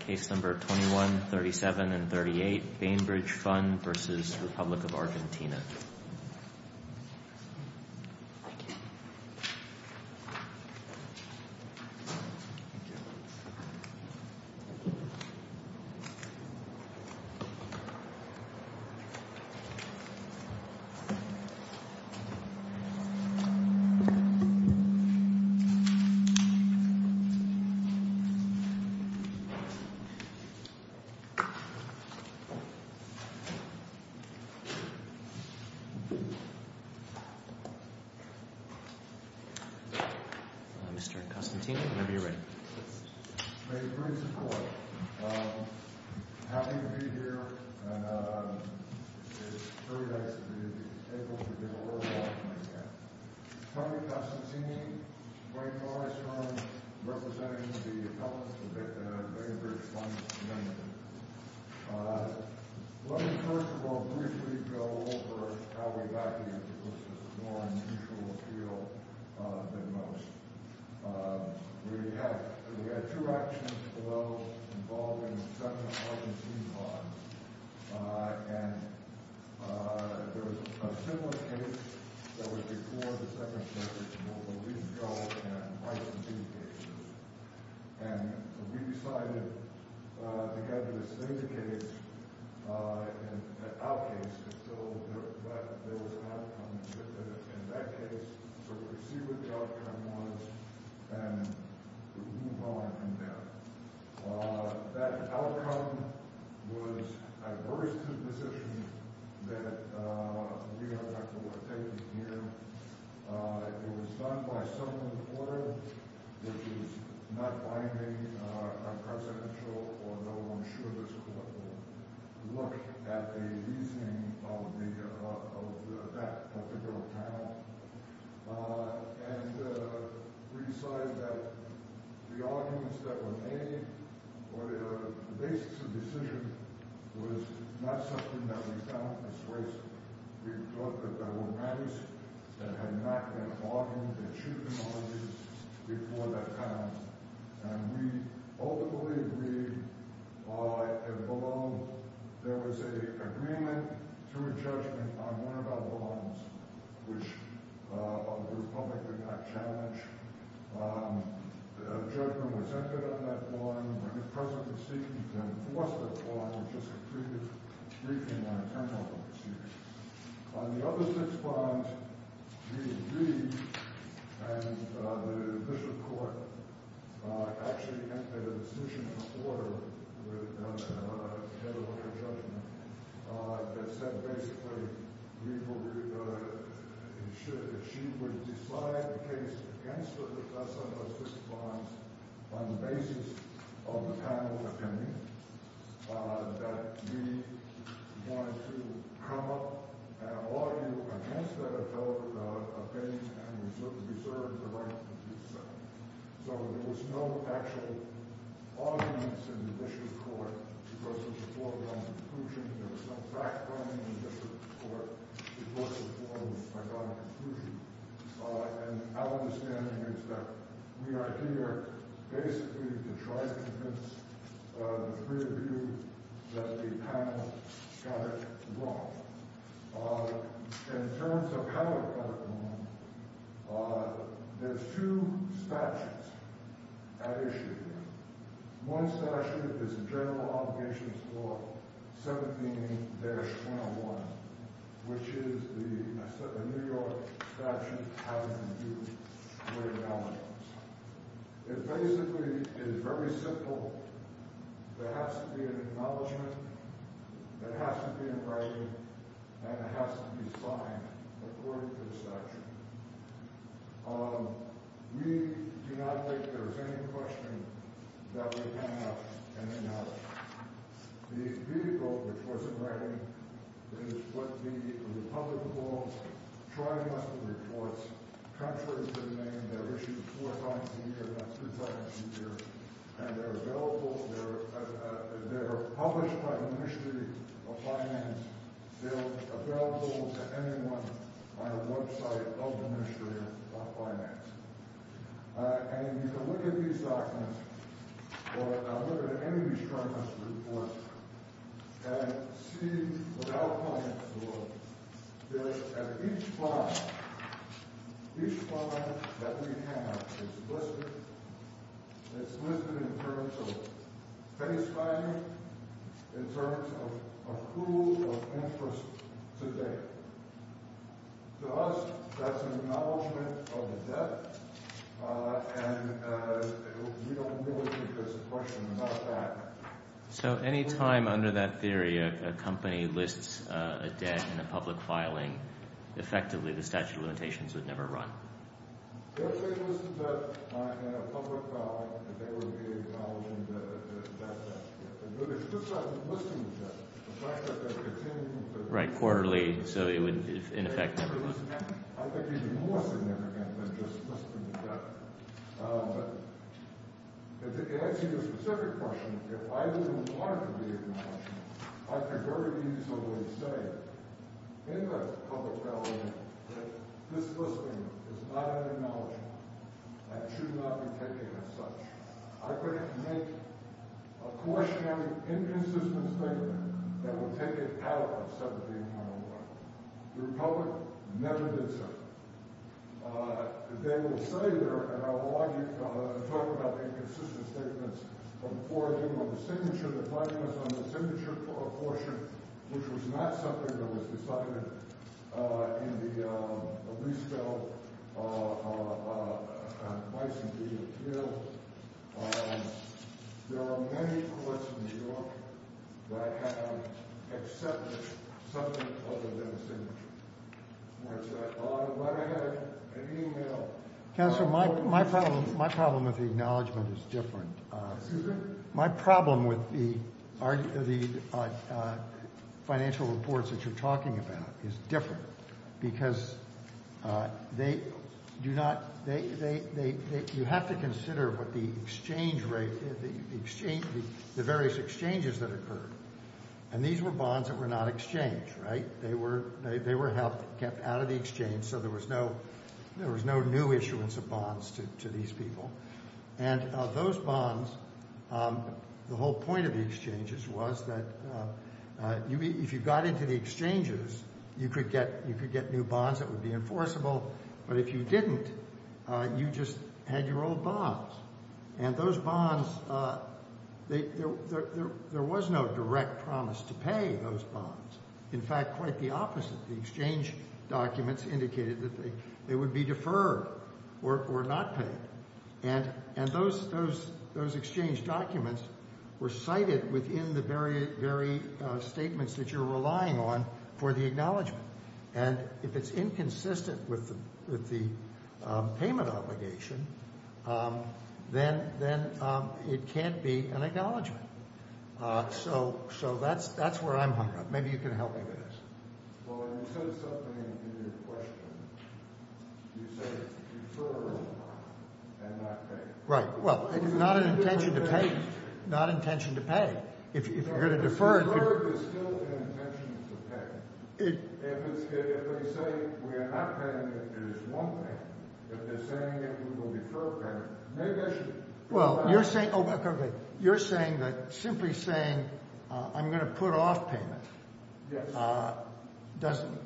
Case number 21, 37, and 38, Bainbridge Fund versus Republic of Argentina. Mr. Costantini, whenever you're ready. Thank you for your support. I'm happy to be here, and it's very nice to be able to give a little talk like that. Let me, first of all, briefly go over how we got here, because this is more unusual appeal than most. We had two actions, although, involving the Senate of Argentina bond, and there was a similar case that was before the Second Century, and we decided together to stay the case, in our case, because there was an outcome. In that case, sort of proceed with the outcome once, and move on from there. That outcome was adverse to the position that we are taking here. It was done by some in the court, which is not binding on presidential, although I'm sure this court will look at a reasoning of that particular panel, and we decided that the arguments that were made, or the basis of the decision, was not something that we found misplaced. We thought that there were matters that had not been argued, achieved in all of these before that panel, and we ultimately agreed that the bond, there was an agreement through that challenge. A judgment was entered on that bond. When the president was seeking to enforce that bond, it was just a briefing on a terminal procedure. On the other six bonds, we agreed, and the official court actually entered a decision of order with the head of our judgment, that said basically, that she would decide the case against the president of those six bonds on the basis of the panel's opinion, that we wanted to come up and argue against that opinion, and reserve the right to do so. So there was no actual arguments in the district court. It was a foregone conclusion. There was no fact-finding in the district court. It was a foregone conclusion, and our understanding is that we are here basically to try to convince the three of you that the panel got it wrong. In terms of how we got it wrong, there's two statutes at issue here. One statute is the General Obligations Law 17-101, which is the New York statute having been used for a while. It basically is very simple. There has to be an acknowledgment, it has to be in writing, and it has to be signed according to the statute. We do not think there is any question that we have an acknowledgment. The vehicle which was in writing is what the Republican Bonds Tri-Muscle Reports, contrary to the name, they're issued four times a year, not two times a year, and they're available, they're published by the Ministry of Finance. They're available to anyone on the website of the Ministry of Finance. And you can look at these documents, or look at any of these Tri-Muscle Reports, and see that each bond, each bond that we have is listed. It's listed in terms of pay signing, in terms of pool of interest today. To us, that's an acknowledgment of the debt, and we don't really think there's a question about that. So any time, under that theory, a company lists a debt in a public filing, effectively, the statute of limitations would never run? They would say they listed a debt in a public filing, and they would be acknowledging that that's a debt. But it's just like listing a debt, the fact that they're continuing to... Right, quarterly, so it would, in effect, never run. I think it would be more significant than just listing a debt. But to answer your specific question, if I didn't want it to be acknowledged, I could very easily say in the public filing that this listing is not an acknowledgment and should not be taken as such. I could make a cautionary, inconsistent statement that would take it out of 17101. The Republic never did so. They will say they're an acknowledgment, talk about inconsistent statements, from forging on the signature, the filing was on the signature portion, which was not something that was decided in the Lease Bill, and twice, indeed, appealed. There are many courts in New York that have accepted something other than a signature. That's right. Counselor, my problem with the acknowledgment is different. Excuse me? My problem with the financial reports that you're talking about is different because you have to consider what the exchange rate, the various exchanges that occurred. And these were bonds that were not exchanged, right? They were kept out of the exchange, so there was no new issuance of bonds to these people. And those bonds, the whole point of the exchanges was that if you got into the exchanges, you could get new bonds that would be enforceable, but if you didn't, you just had your old bonds. And those bonds, there was no direct promise to pay those bonds. In fact, quite the opposite. The exchange documents indicated that they would be deferred or not paid. And those exchange documents were cited within the very statements that you're relying on for the acknowledgment. And if it's inconsistent with the payment obligation, then it can't be an acknowledgment. So that's where I'm hung up. Maybe you can help me with this. Well, you said something in your question. You said it's deferred and not paid. Right. Well, it's not an intention to pay. It's not an intention to pay. If you're going to defer it. Deferred is still an intention to pay. If they say we are not paying it, it is one payment. If they're saying that we will defer payment, maybe I should. Well, you're saying that simply saying I'm going to put off payment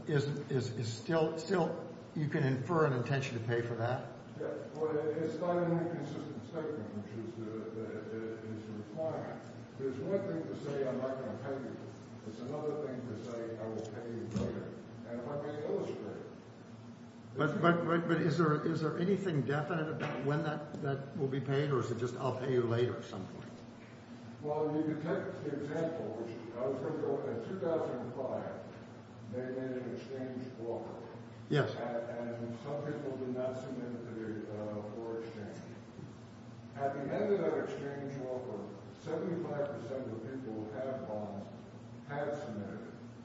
is still you can infer an intention to pay for that? Yes. But it's not an inconsistent statement, which is the requirement. There's one thing to say I'm not going to pay you. There's another thing to say I will pay you later. And it might be illustrated. But is there anything definite about when that will be paid, or is it just I'll pay you later at some point? Well, you can take examples. For example, in 2005, they made an exchange offer. Yes. And some people did not submit for exchange. At the end of that exchange offer, 75% of the people who have bonds have submitted.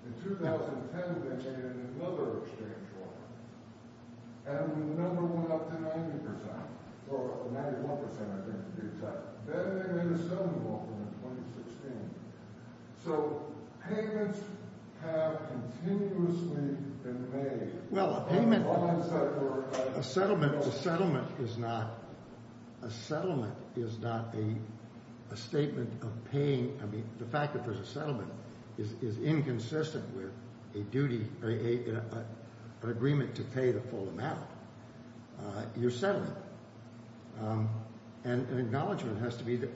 In 2010, they made another exchange offer. And the number went up to 90% or 91%, I think, to be exact. Then they made a settlement offer in 2016. So payments have continuously been made. Well, a settlement is not a statement of paying. I mean, the fact that there's a settlement is inconsistent with a duty or an agreement to pay the full amount. You're settling. And an acknowledgment has to be the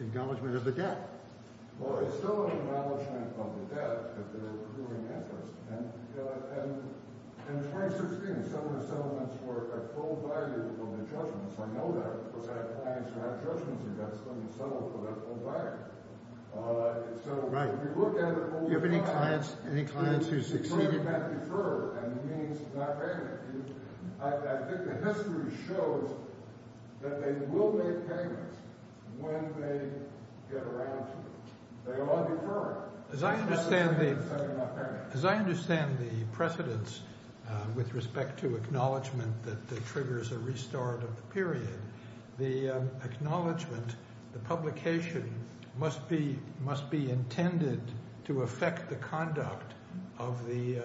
acknowledgment of the debt. Well, it's still an acknowledgment of the debt that they're doing interest. And in 2016, some of the settlements were at full value for the judgments. I know that. Of course, I have clients who have judgments against them. You settle for that full value. So if you look at it over time, it's certainly not deferred, and it means it's not payment. I think the history shows that they will make payments when they get around to it. They are deferring. As I understand the precedents with respect to acknowledgment that triggers a restart of the period, the acknowledgment, the publication must be intended to affect the conduct of the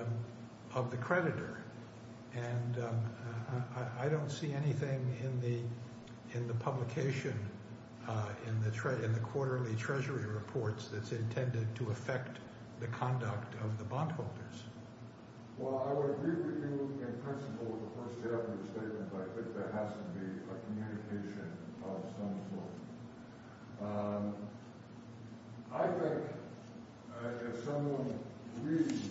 creditor. And I don't see anything in the publication, in the quarterly Treasury reports, that's intended to affect the conduct of the bondholders. Well, I would agree with you in principle with the first statement, but I think there has to be a communication of some sort. I think, if someone reads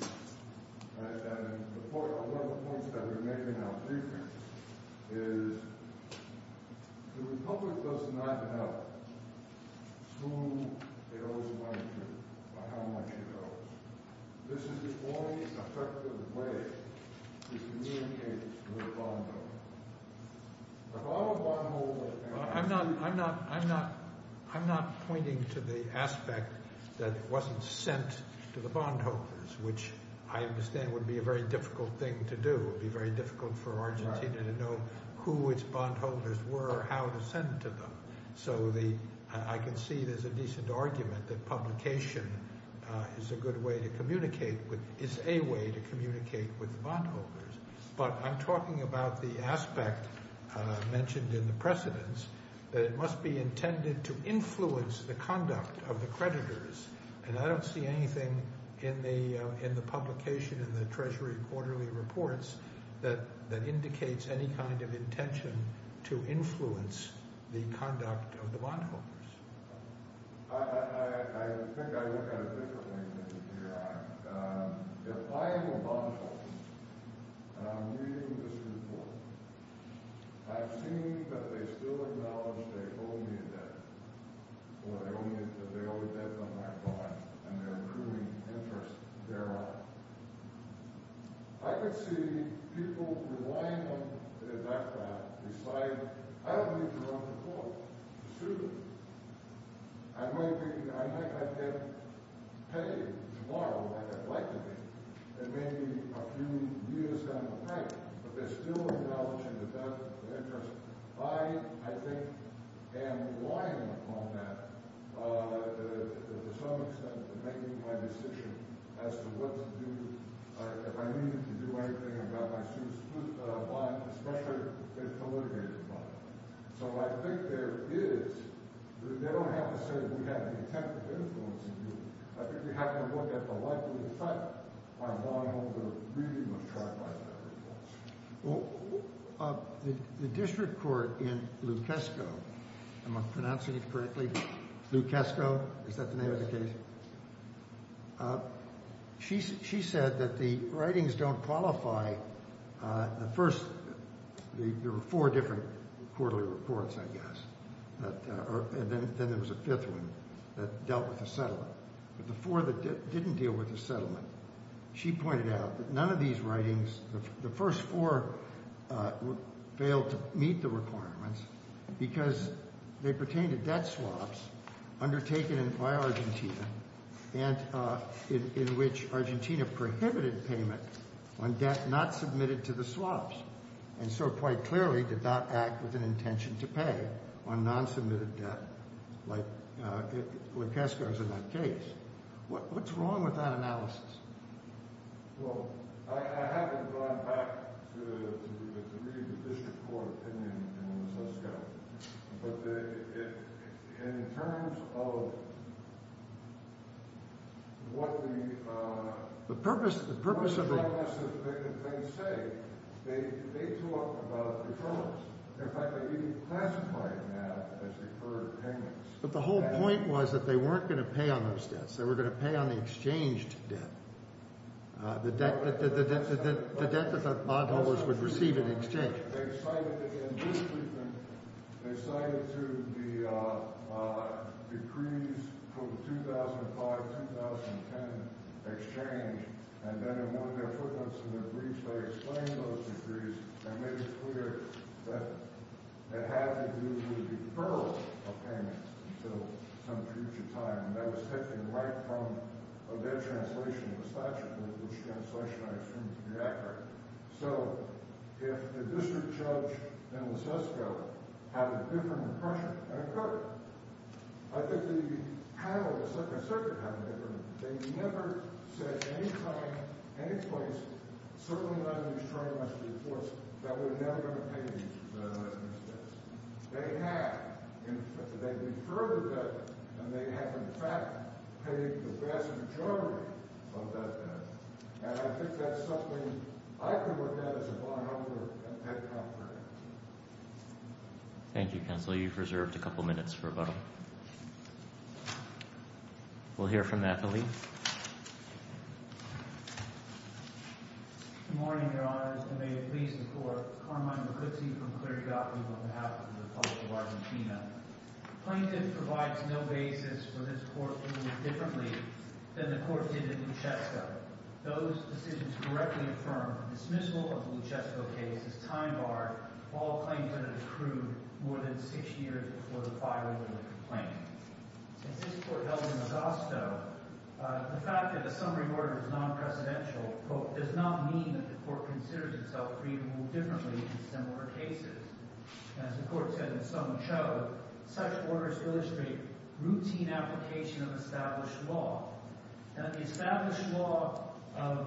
the report, one of the points that we're making now briefly is the republic does not know who it owes money to or how much it owes. This is the only effective way to communicate with a bondholder. I'm not pointing to the aspect that it wasn't sent to the bondholders, which I understand would be a very difficult thing to do. It would be very difficult for Argentina to know who its bondholders were or how to send it to them. So I can see there's a decent argument that publication is a good way to communicate with – is a way to communicate with the bondholders. But I'm talking about the aspect mentioned in the precedents, that it must be intended to influence the conduct of the creditors. And I don't see anything in the publication in the Treasury quarterly reports that indicates any kind of intention to influence the conduct of the bondholders. I think I look at it differently than you do, Your Honor. If I am a bondholder and I'm reading this report, I've seen that they still acknowledge they owe me a debt, or they owe a debt to my bond, and they're proving interest thereof. I could see people relying on their debt to decide, I don't need to run for court soon. I might be – I might not get paid tomorrow like I'd like to be, and maybe a few years down the pipe, but they're still acknowledging a debt of interest. I, I think, am relying upon that to some extent in making my decision as to what to do – if I'm going to do anything about my student's bond, especially if it's a litigated bond. So I think there is – they don't have to say we have the intent to influence you. I think we have to look at the likely effect on bondholders reading the chart by the records. Well, the district court in Lukesko – am I pronouncing it correctly? Lukesko? Is that the name of the case? She said that the writings don't qualify the first – there were four different quarterly reports, I guess, and then there was a fifth one that dealt with the settlement. But the four that didn't deal with the settlement, she pointed out that none of these writings – the first four failed to meet the requirements because they pertain to debt swaps undertaken by Argentina and in which Argentina prohibited payment on debt not submitted to the swaps. And so quite clearly did not act with an intention to pay on non-submitted debt like Lukesko's in that case. What's wrong with that analysis? Well, I haven't gone back to the – to read the district court opinion in Lukesko. But in terms of what the – The purpose – the purpose of the – The purpose of the thing they say, they talk about the terms. In fact, they even classify it now as deferred payments. But the whole point was that they weren't going to pay on those debts. They were going to pay on the exchanged debt, the debt that the bondholders would receive in exchange. In this treatment, they cited to the decrees for the 2005-2010 exchange, and then in one of their footnotes in their briefs they explain those decrees and make it clear that it had to do with deferral of payments until some future time. And that was taken right from their translation of the statute, which translation I assume to be accurate. So if the district judge in Lukesko had a different impression, that occurred. I think the panel was certainly – certainly kind of different. They never said at any time, any place, certainly not in these triumphal reports, that we're never going to pay these – these debts. They have – they deferred the debt, and they have, in fact, paid the vast majority of that debt. And I think that's something I could look at as a bondholder at that time period. Thank you, counsel. You've reserved a couple minutes for rebuttal. We'll hear from Natalie. Good morning, Your Honors, and may it please the court. Carmine Maguzzi from Clerigot, on behalf of the public of Argentina. The plaintiff provides no basis for this court to move differently than the court did in Lukesko. Those decisions correctly affirm the dismissal of the Lukesko case as time bar all claims under the crude more than six years before the filing of the complaint. Since this court held in Augusto, the fact that the summary order is non-presidential, quote, does not mean that the court considers itself free to move differently in similar cases. As the court said in Soncho, such orders illustrate routine application of established law. In the established law of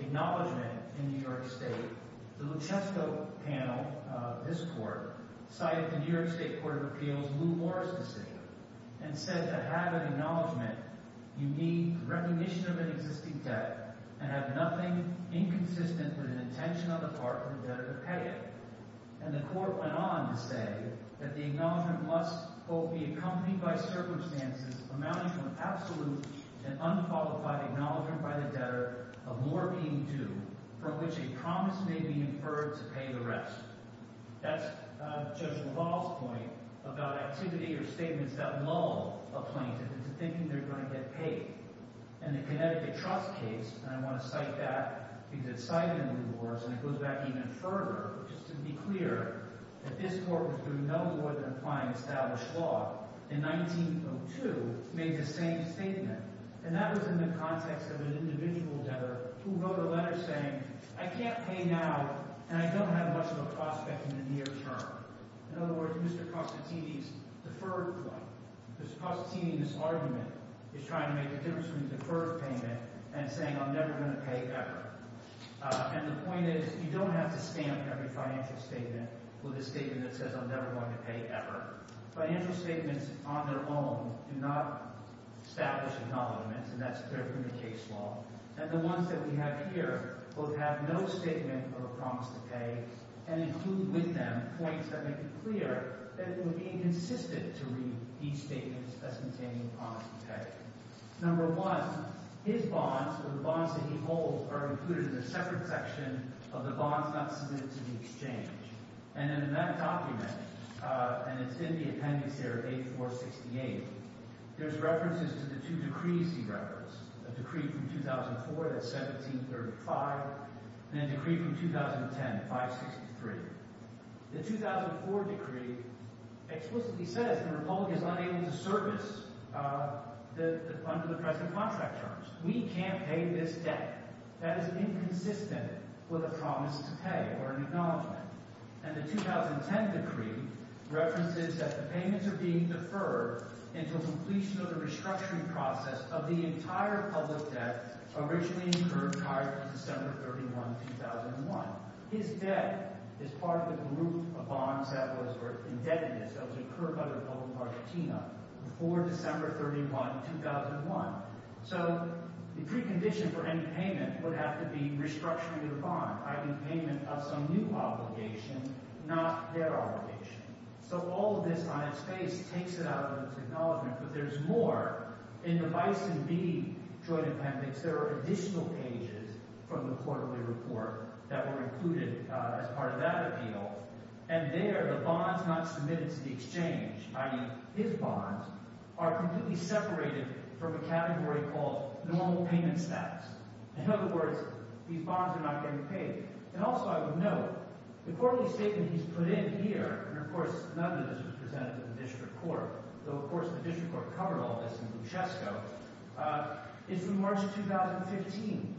acknowledgement in New York State, the Lukesko panel, this court, cited the New York State Court of Appeals' Lou Morris decision and said to have an acknowledgement, you need recognition of an existing debt and have nothing inconsistent with an intention on the part of the debtor to pay it. And the court went on to say that the acknowledgement must, quote, be accompanied by circumstances amounting to an absolute and unqualified acknowledgement by the debtor of more being due, from which a promise may be inferred to pay the rest. That's Judge LaValle's point about activity or statements that lull a plaintiff into thinking they're going to get paid. And the Connecticut Trust case, and I want to cite that because it cited Lou Morris and it goes back even further just to be clear, that this court was doing no more than applying established law in 1902, made the same statement. And that was in the context of an individual debtor who wrote a letter saying, I can't pay now and I don't have much of a prospect in the near term. In other words, Mr. Costantini's deferred point, Mr. Costantini's argument is trying to make a difference when you defer a payment and saying I'm never going to pay ever. And the point is, you don't have to stamp every financial statement with a statement that says I'm never going to pay ever. Financial statements on their own do not establish acknowledgement, and that's clear from the case law. And the ones that we have here both have no statement of a promise to pay and include with them points that make it clear that it would be inconsistent to read these statements as containing a promise to pay. Number one, his bonds or the bonds that he holds are included in a separate section of the bonds not submitted to the exchange. And in that document, and it's in the appendix here, 8468, there's references to the two decrees he referenced, a decree from 2004, that's 1735, and a decree from 2010, 563. The 2004 decree explicitly says the republic is unable to service under the present contract terms. We can't pay this debt. That is inconsistent with a promise to pay or an acknowledgement. And the 2010 decree references that the payments are being deferred until completion of the restructuring process of the entire public debt originally incurred prior to December 31, 2001. His debt is part of the group of bonds that was indebtedness that was incurred by the Republic of Argentina before December 31, 2001. So the precondition for any payment would have to be restructuring of the bond, i.e., payment of some new obligation, not their obligation. So all of this on its face takes it out of its acknowledgement, but there's more. In the Bison B joint appendix, there are additional pages from the quarterly report that were included as part of that appeal. And there, the bonds not submitted to the exchange, i.e., his bonds, are completely separated from a category called normal payment status. In other words, these bonds are not getting paid. And also I would note the quarterly statement he's put in here, and of course none of this was presented to the district court, though of course the district court covered all this in Buchesco, is from March 2015.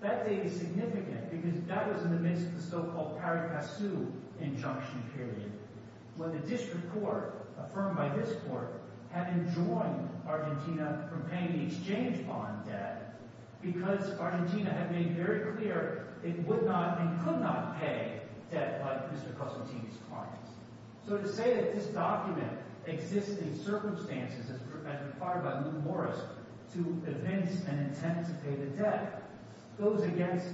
That date is significant because that was in the midst of the so-called Paricasu injunction period, when the district court, affirmed by this court, had enjoined Argentina from paying the exchange bond debt because Argentina had made very clear it would not and could not pay debt like Mr. Cosentini's clients. So to say that this document exists in circumstances as required by Luke Morris to evince an intent to pay the debt goes against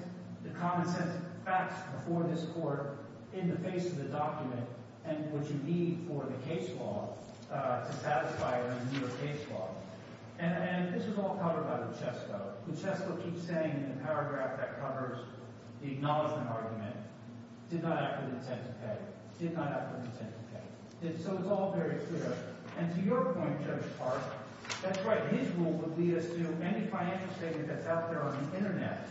the common sense facts before this court in the face of the document and what you need for the case law to satisfy the New York case law. And this was all covered by Buchesco. Buchesco keeps saying in the paragraph that covers the acknowledgment argument, did not have an intent to pay, did not have an intent to pay. So it's all very clear. And to your point, Judge Park, that's right. His rule would lead us to any financial statement that's out there on the internet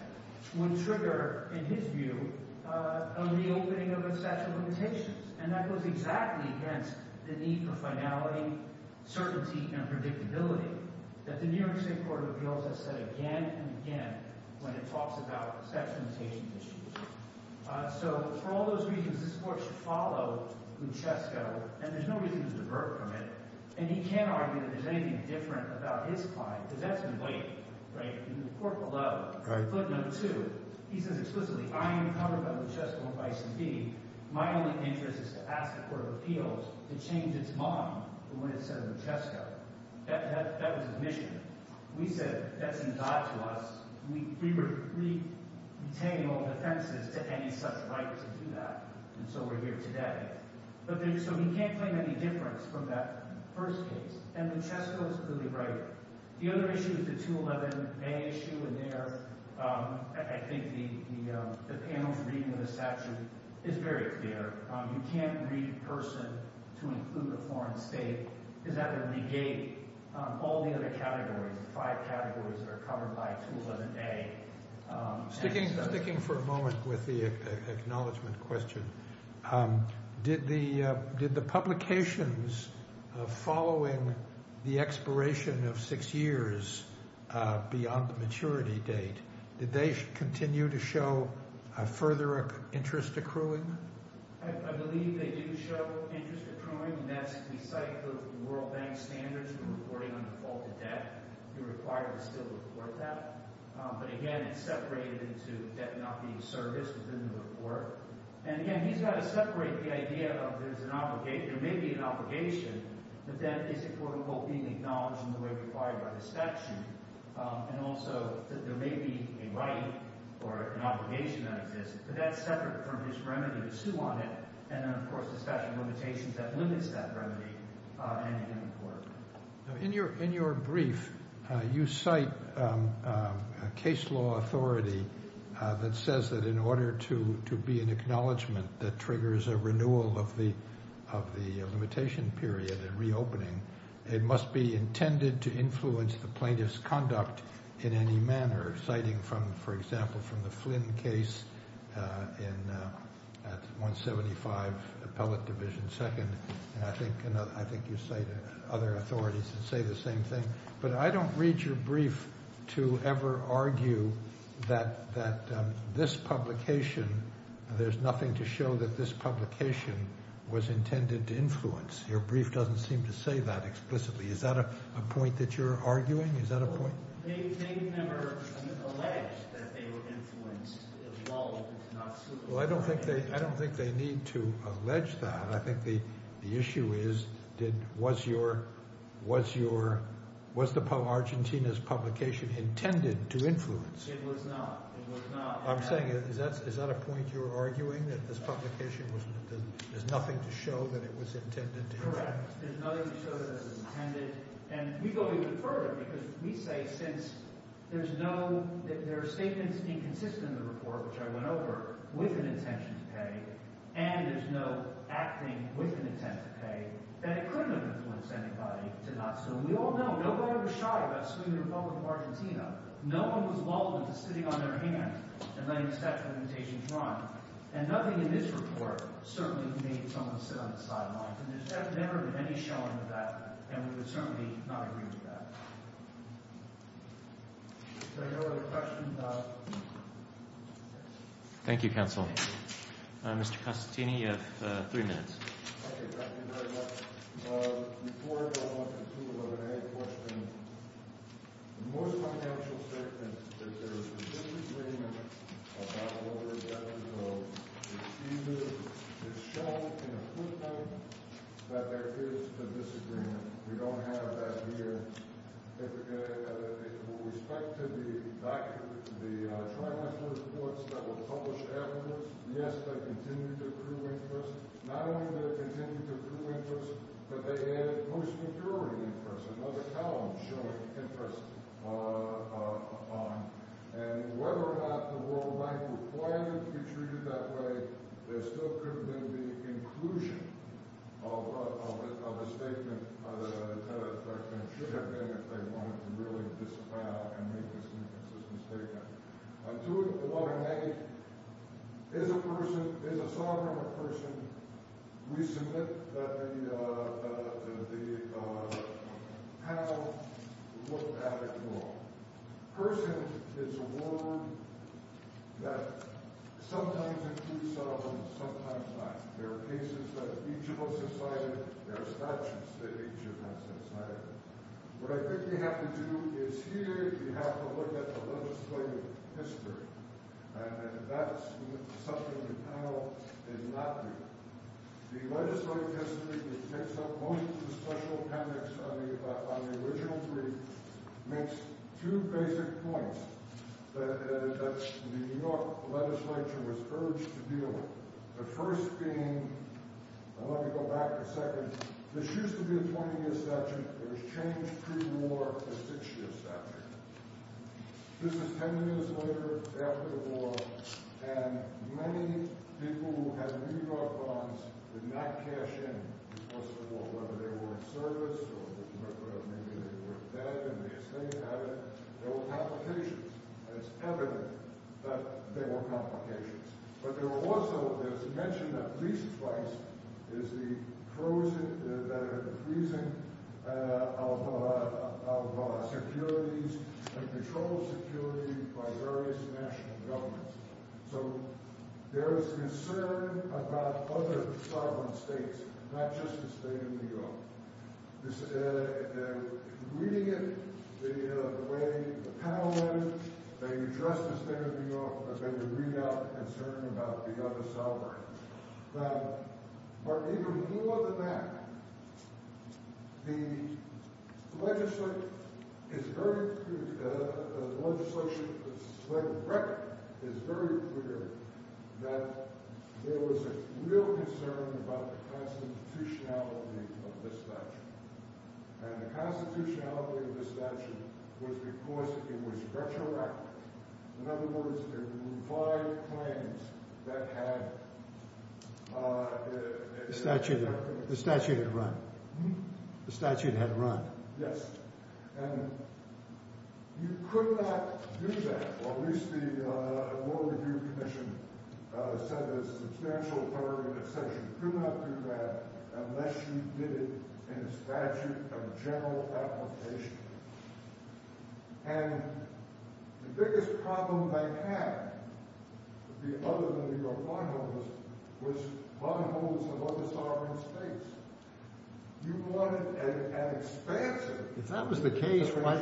would trigger, in his view, a reopening of a statute of limitations. And that goes exactly against the need for finality, certainty, and predictability that the New York State Court of Appeals has said again and again when it talks about statute of limitations issues. So for all those reasons, this court should follow Buchesco. And there's no reason to divert from it. And he can't argue that there's anything different about his client because that's in white, right? In the court below, footnote two, he says explicitly, I am covered by Buchesco, not by CD. My only interest is to ask the Court of Appeals to change its mind when it said Buchesco. That was admission. We said that's not to us. We retain all defenses to any such right to do that. And so we're here today. So we can't claim any difference from that first case. And Buchesco is clearly right. The other issue is the 211A issue in there. I think the panel's reading of the statute is very clear. You can't read person to include a foreign state. Is that going to negate all the other categories, the five categories that are covered by 211A? Sticking for a moment with the acknowledgment question, did the publications following the expiration of six years beyond the maturity date, did they continue to show further interest accruing? I believe they do show interest accruing, and that's the cycle of the World Bank standards for reporting on defaulted debt. You're required to still report that. But, again, it's separated into debt not being serviced within the report. And, again, he's got to separate the idea of there may be an obligation, but that isn't being acknowledged in the way required by the statute, and also that there may be a right or an obligation that exists. But that's separate from his remedy to sue on it, and then, of course, the statute of limitations that limits that remedy and in the report. In your brief, you cite a case law authority that says that in order to be an acknowledgement that triggers a renewal of the limitation period and reopening, it must be intended to influence the plaintiff's conduct in any manner, citing, for example, from the Flynn case at 175 Appellate Division 2nd, and I think you cite other authorities that say the same thing. But I don't read your brief to ever argue that this publication, there's nothing to show that this publication was intended to influence. Your brief doesn't seem to say that explicitly. Is that a point that you're arguing? Is that a point? They never allege that they were influenced at all. Well, I don't think they need to allege that. I think the issue is was Argentina's publication intended to influence? It was not. It was not. I'm saying is that a point you're arguing, that this publication, there's nothing to show that it was intended to influence? Correct. There's nothing to show that it was intended. And we go even further because we say since there's no – there are statements inconsistent in the report, which I went over, with an intention to pay, and there's no acting with an intent to pay, that it couldn't have influenced anybody to not sue. And we all know nobody was shy about suing the Republic of Argentina. No one was lulled into sitting on their hands and letting the statute of limitations run. And nothing in this report certainly made someone sit on the sidelines. And there's never been any showing of that. And we would certainly not agree with that. Is there no other questions? Thank you, Counsel. Mr. Costantini, you have three minutes. Okay. Thank you very much. Before I go on to a related question, most of my counsels say that there's a disagreement about what we're objective of. It's either – it's shown in a footnote that there is a disagreement. We don't have that here. With respect to the document – the tributary reports that were published afterwards, yes, they continue to prove interest. Not only do they continue to prove interest, but they add most majority interest, another column showing interest. And whether or not the World Bank required them to be treated that way, there still couldn't have been the inclusion of a statement that should have been if they wanted to really disavow and make this inconsistent statement. I'm doing what I may. As a person – as a sovereign person, we submit that they have what they have ignored. Person is a word that sometimes includes sovereign, sometimes not. There are cases that each of us decided. There are statutes that each of us decided. What I think we have to do is here we have to look at the legislative history, and that's something the panel did not do. The legislative history that makes up most of the special appendix on the original three makes two basic points that the New York legislature was urged to deal with. The first being – I want to go back a second. This used to be a 20-year section. It was changed pre-war to a six-year section. This is 10 years later, after the war, and many people who had New York bonds did not cash in because of the war, whether they were in service or maybe they were dead and they stayed at it. There were complications, and it's evident that there were complications. But there were also – it was mentioned that police advice is the freezing of securities and control of security by various national governments. So there is concern about other sovereign states, not just the state of New York. They're reading it the way the panel is, that you trust the state of New York, but then you read out the concern about the other sovereign. But even more than that, the legislature is very – and the constitutionality of the statute was because it was retroactive. In other words, there were five claims that had – The statute had run. Mm-hmm. The statute had run. Yes. And you could not do that, or at least the Law Review Commission said that you could not do that unless you did it in a statute of general application. And the biggest problem they had, other than New York bondholders, was bondholders of other sovereign states. You wanted an expansion. If that was the case, why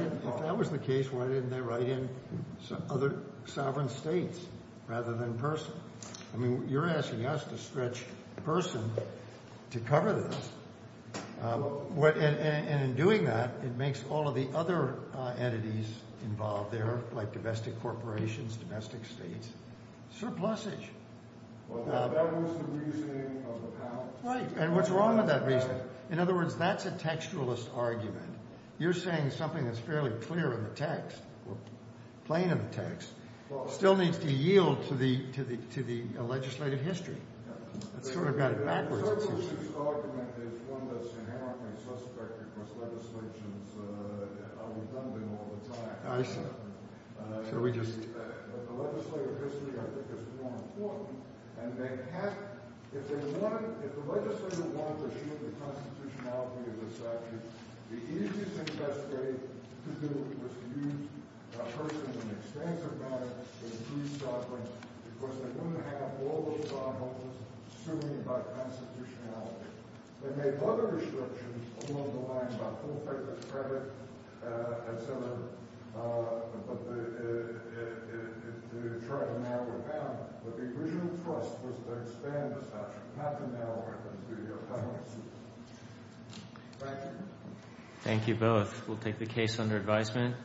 didn't they write in other sovereign states rather than person? I mean, you're asking us to stretch person to cover this. And in doing that, it makes all of the other entities involved there, like domestic corporations, domestic states, surplusage. Well, that was the reasoning of the panel. Right. And what's wrong with that reasoning? In other words, that's a textualist argument. You're saying something that's fairly clear in the text, plain in the text, still needs to yield to the legislative history. It's sort of got it backwards, it seems. The surplus use argument is one that's inherently suspect because legislations are redundant all the time. I see. So we just – But the legislative history, I think, is more important. And they have – if they wanted – if the legislature wanted to shield the constitutionality of the statute, the easiest and best way to do it was to use person in an expansive manner to increase sovereigns because they wouldn't have all those sovereigns suing by constitutionality. They made other restrictions along the lines of full-fledged credit, et cetera, but they tried to narrow it down. But the original thrust was to expand the statute, not to narrow it and do your penalty suit. Questions? Thank you both. We'll take the case under advisement.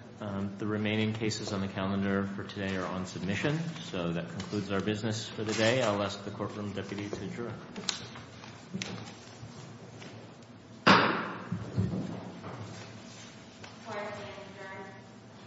The remaining cases on the calendar for today are on submission. So that concludes our business for the day. I'll ask the courtroom deputy to adjourn.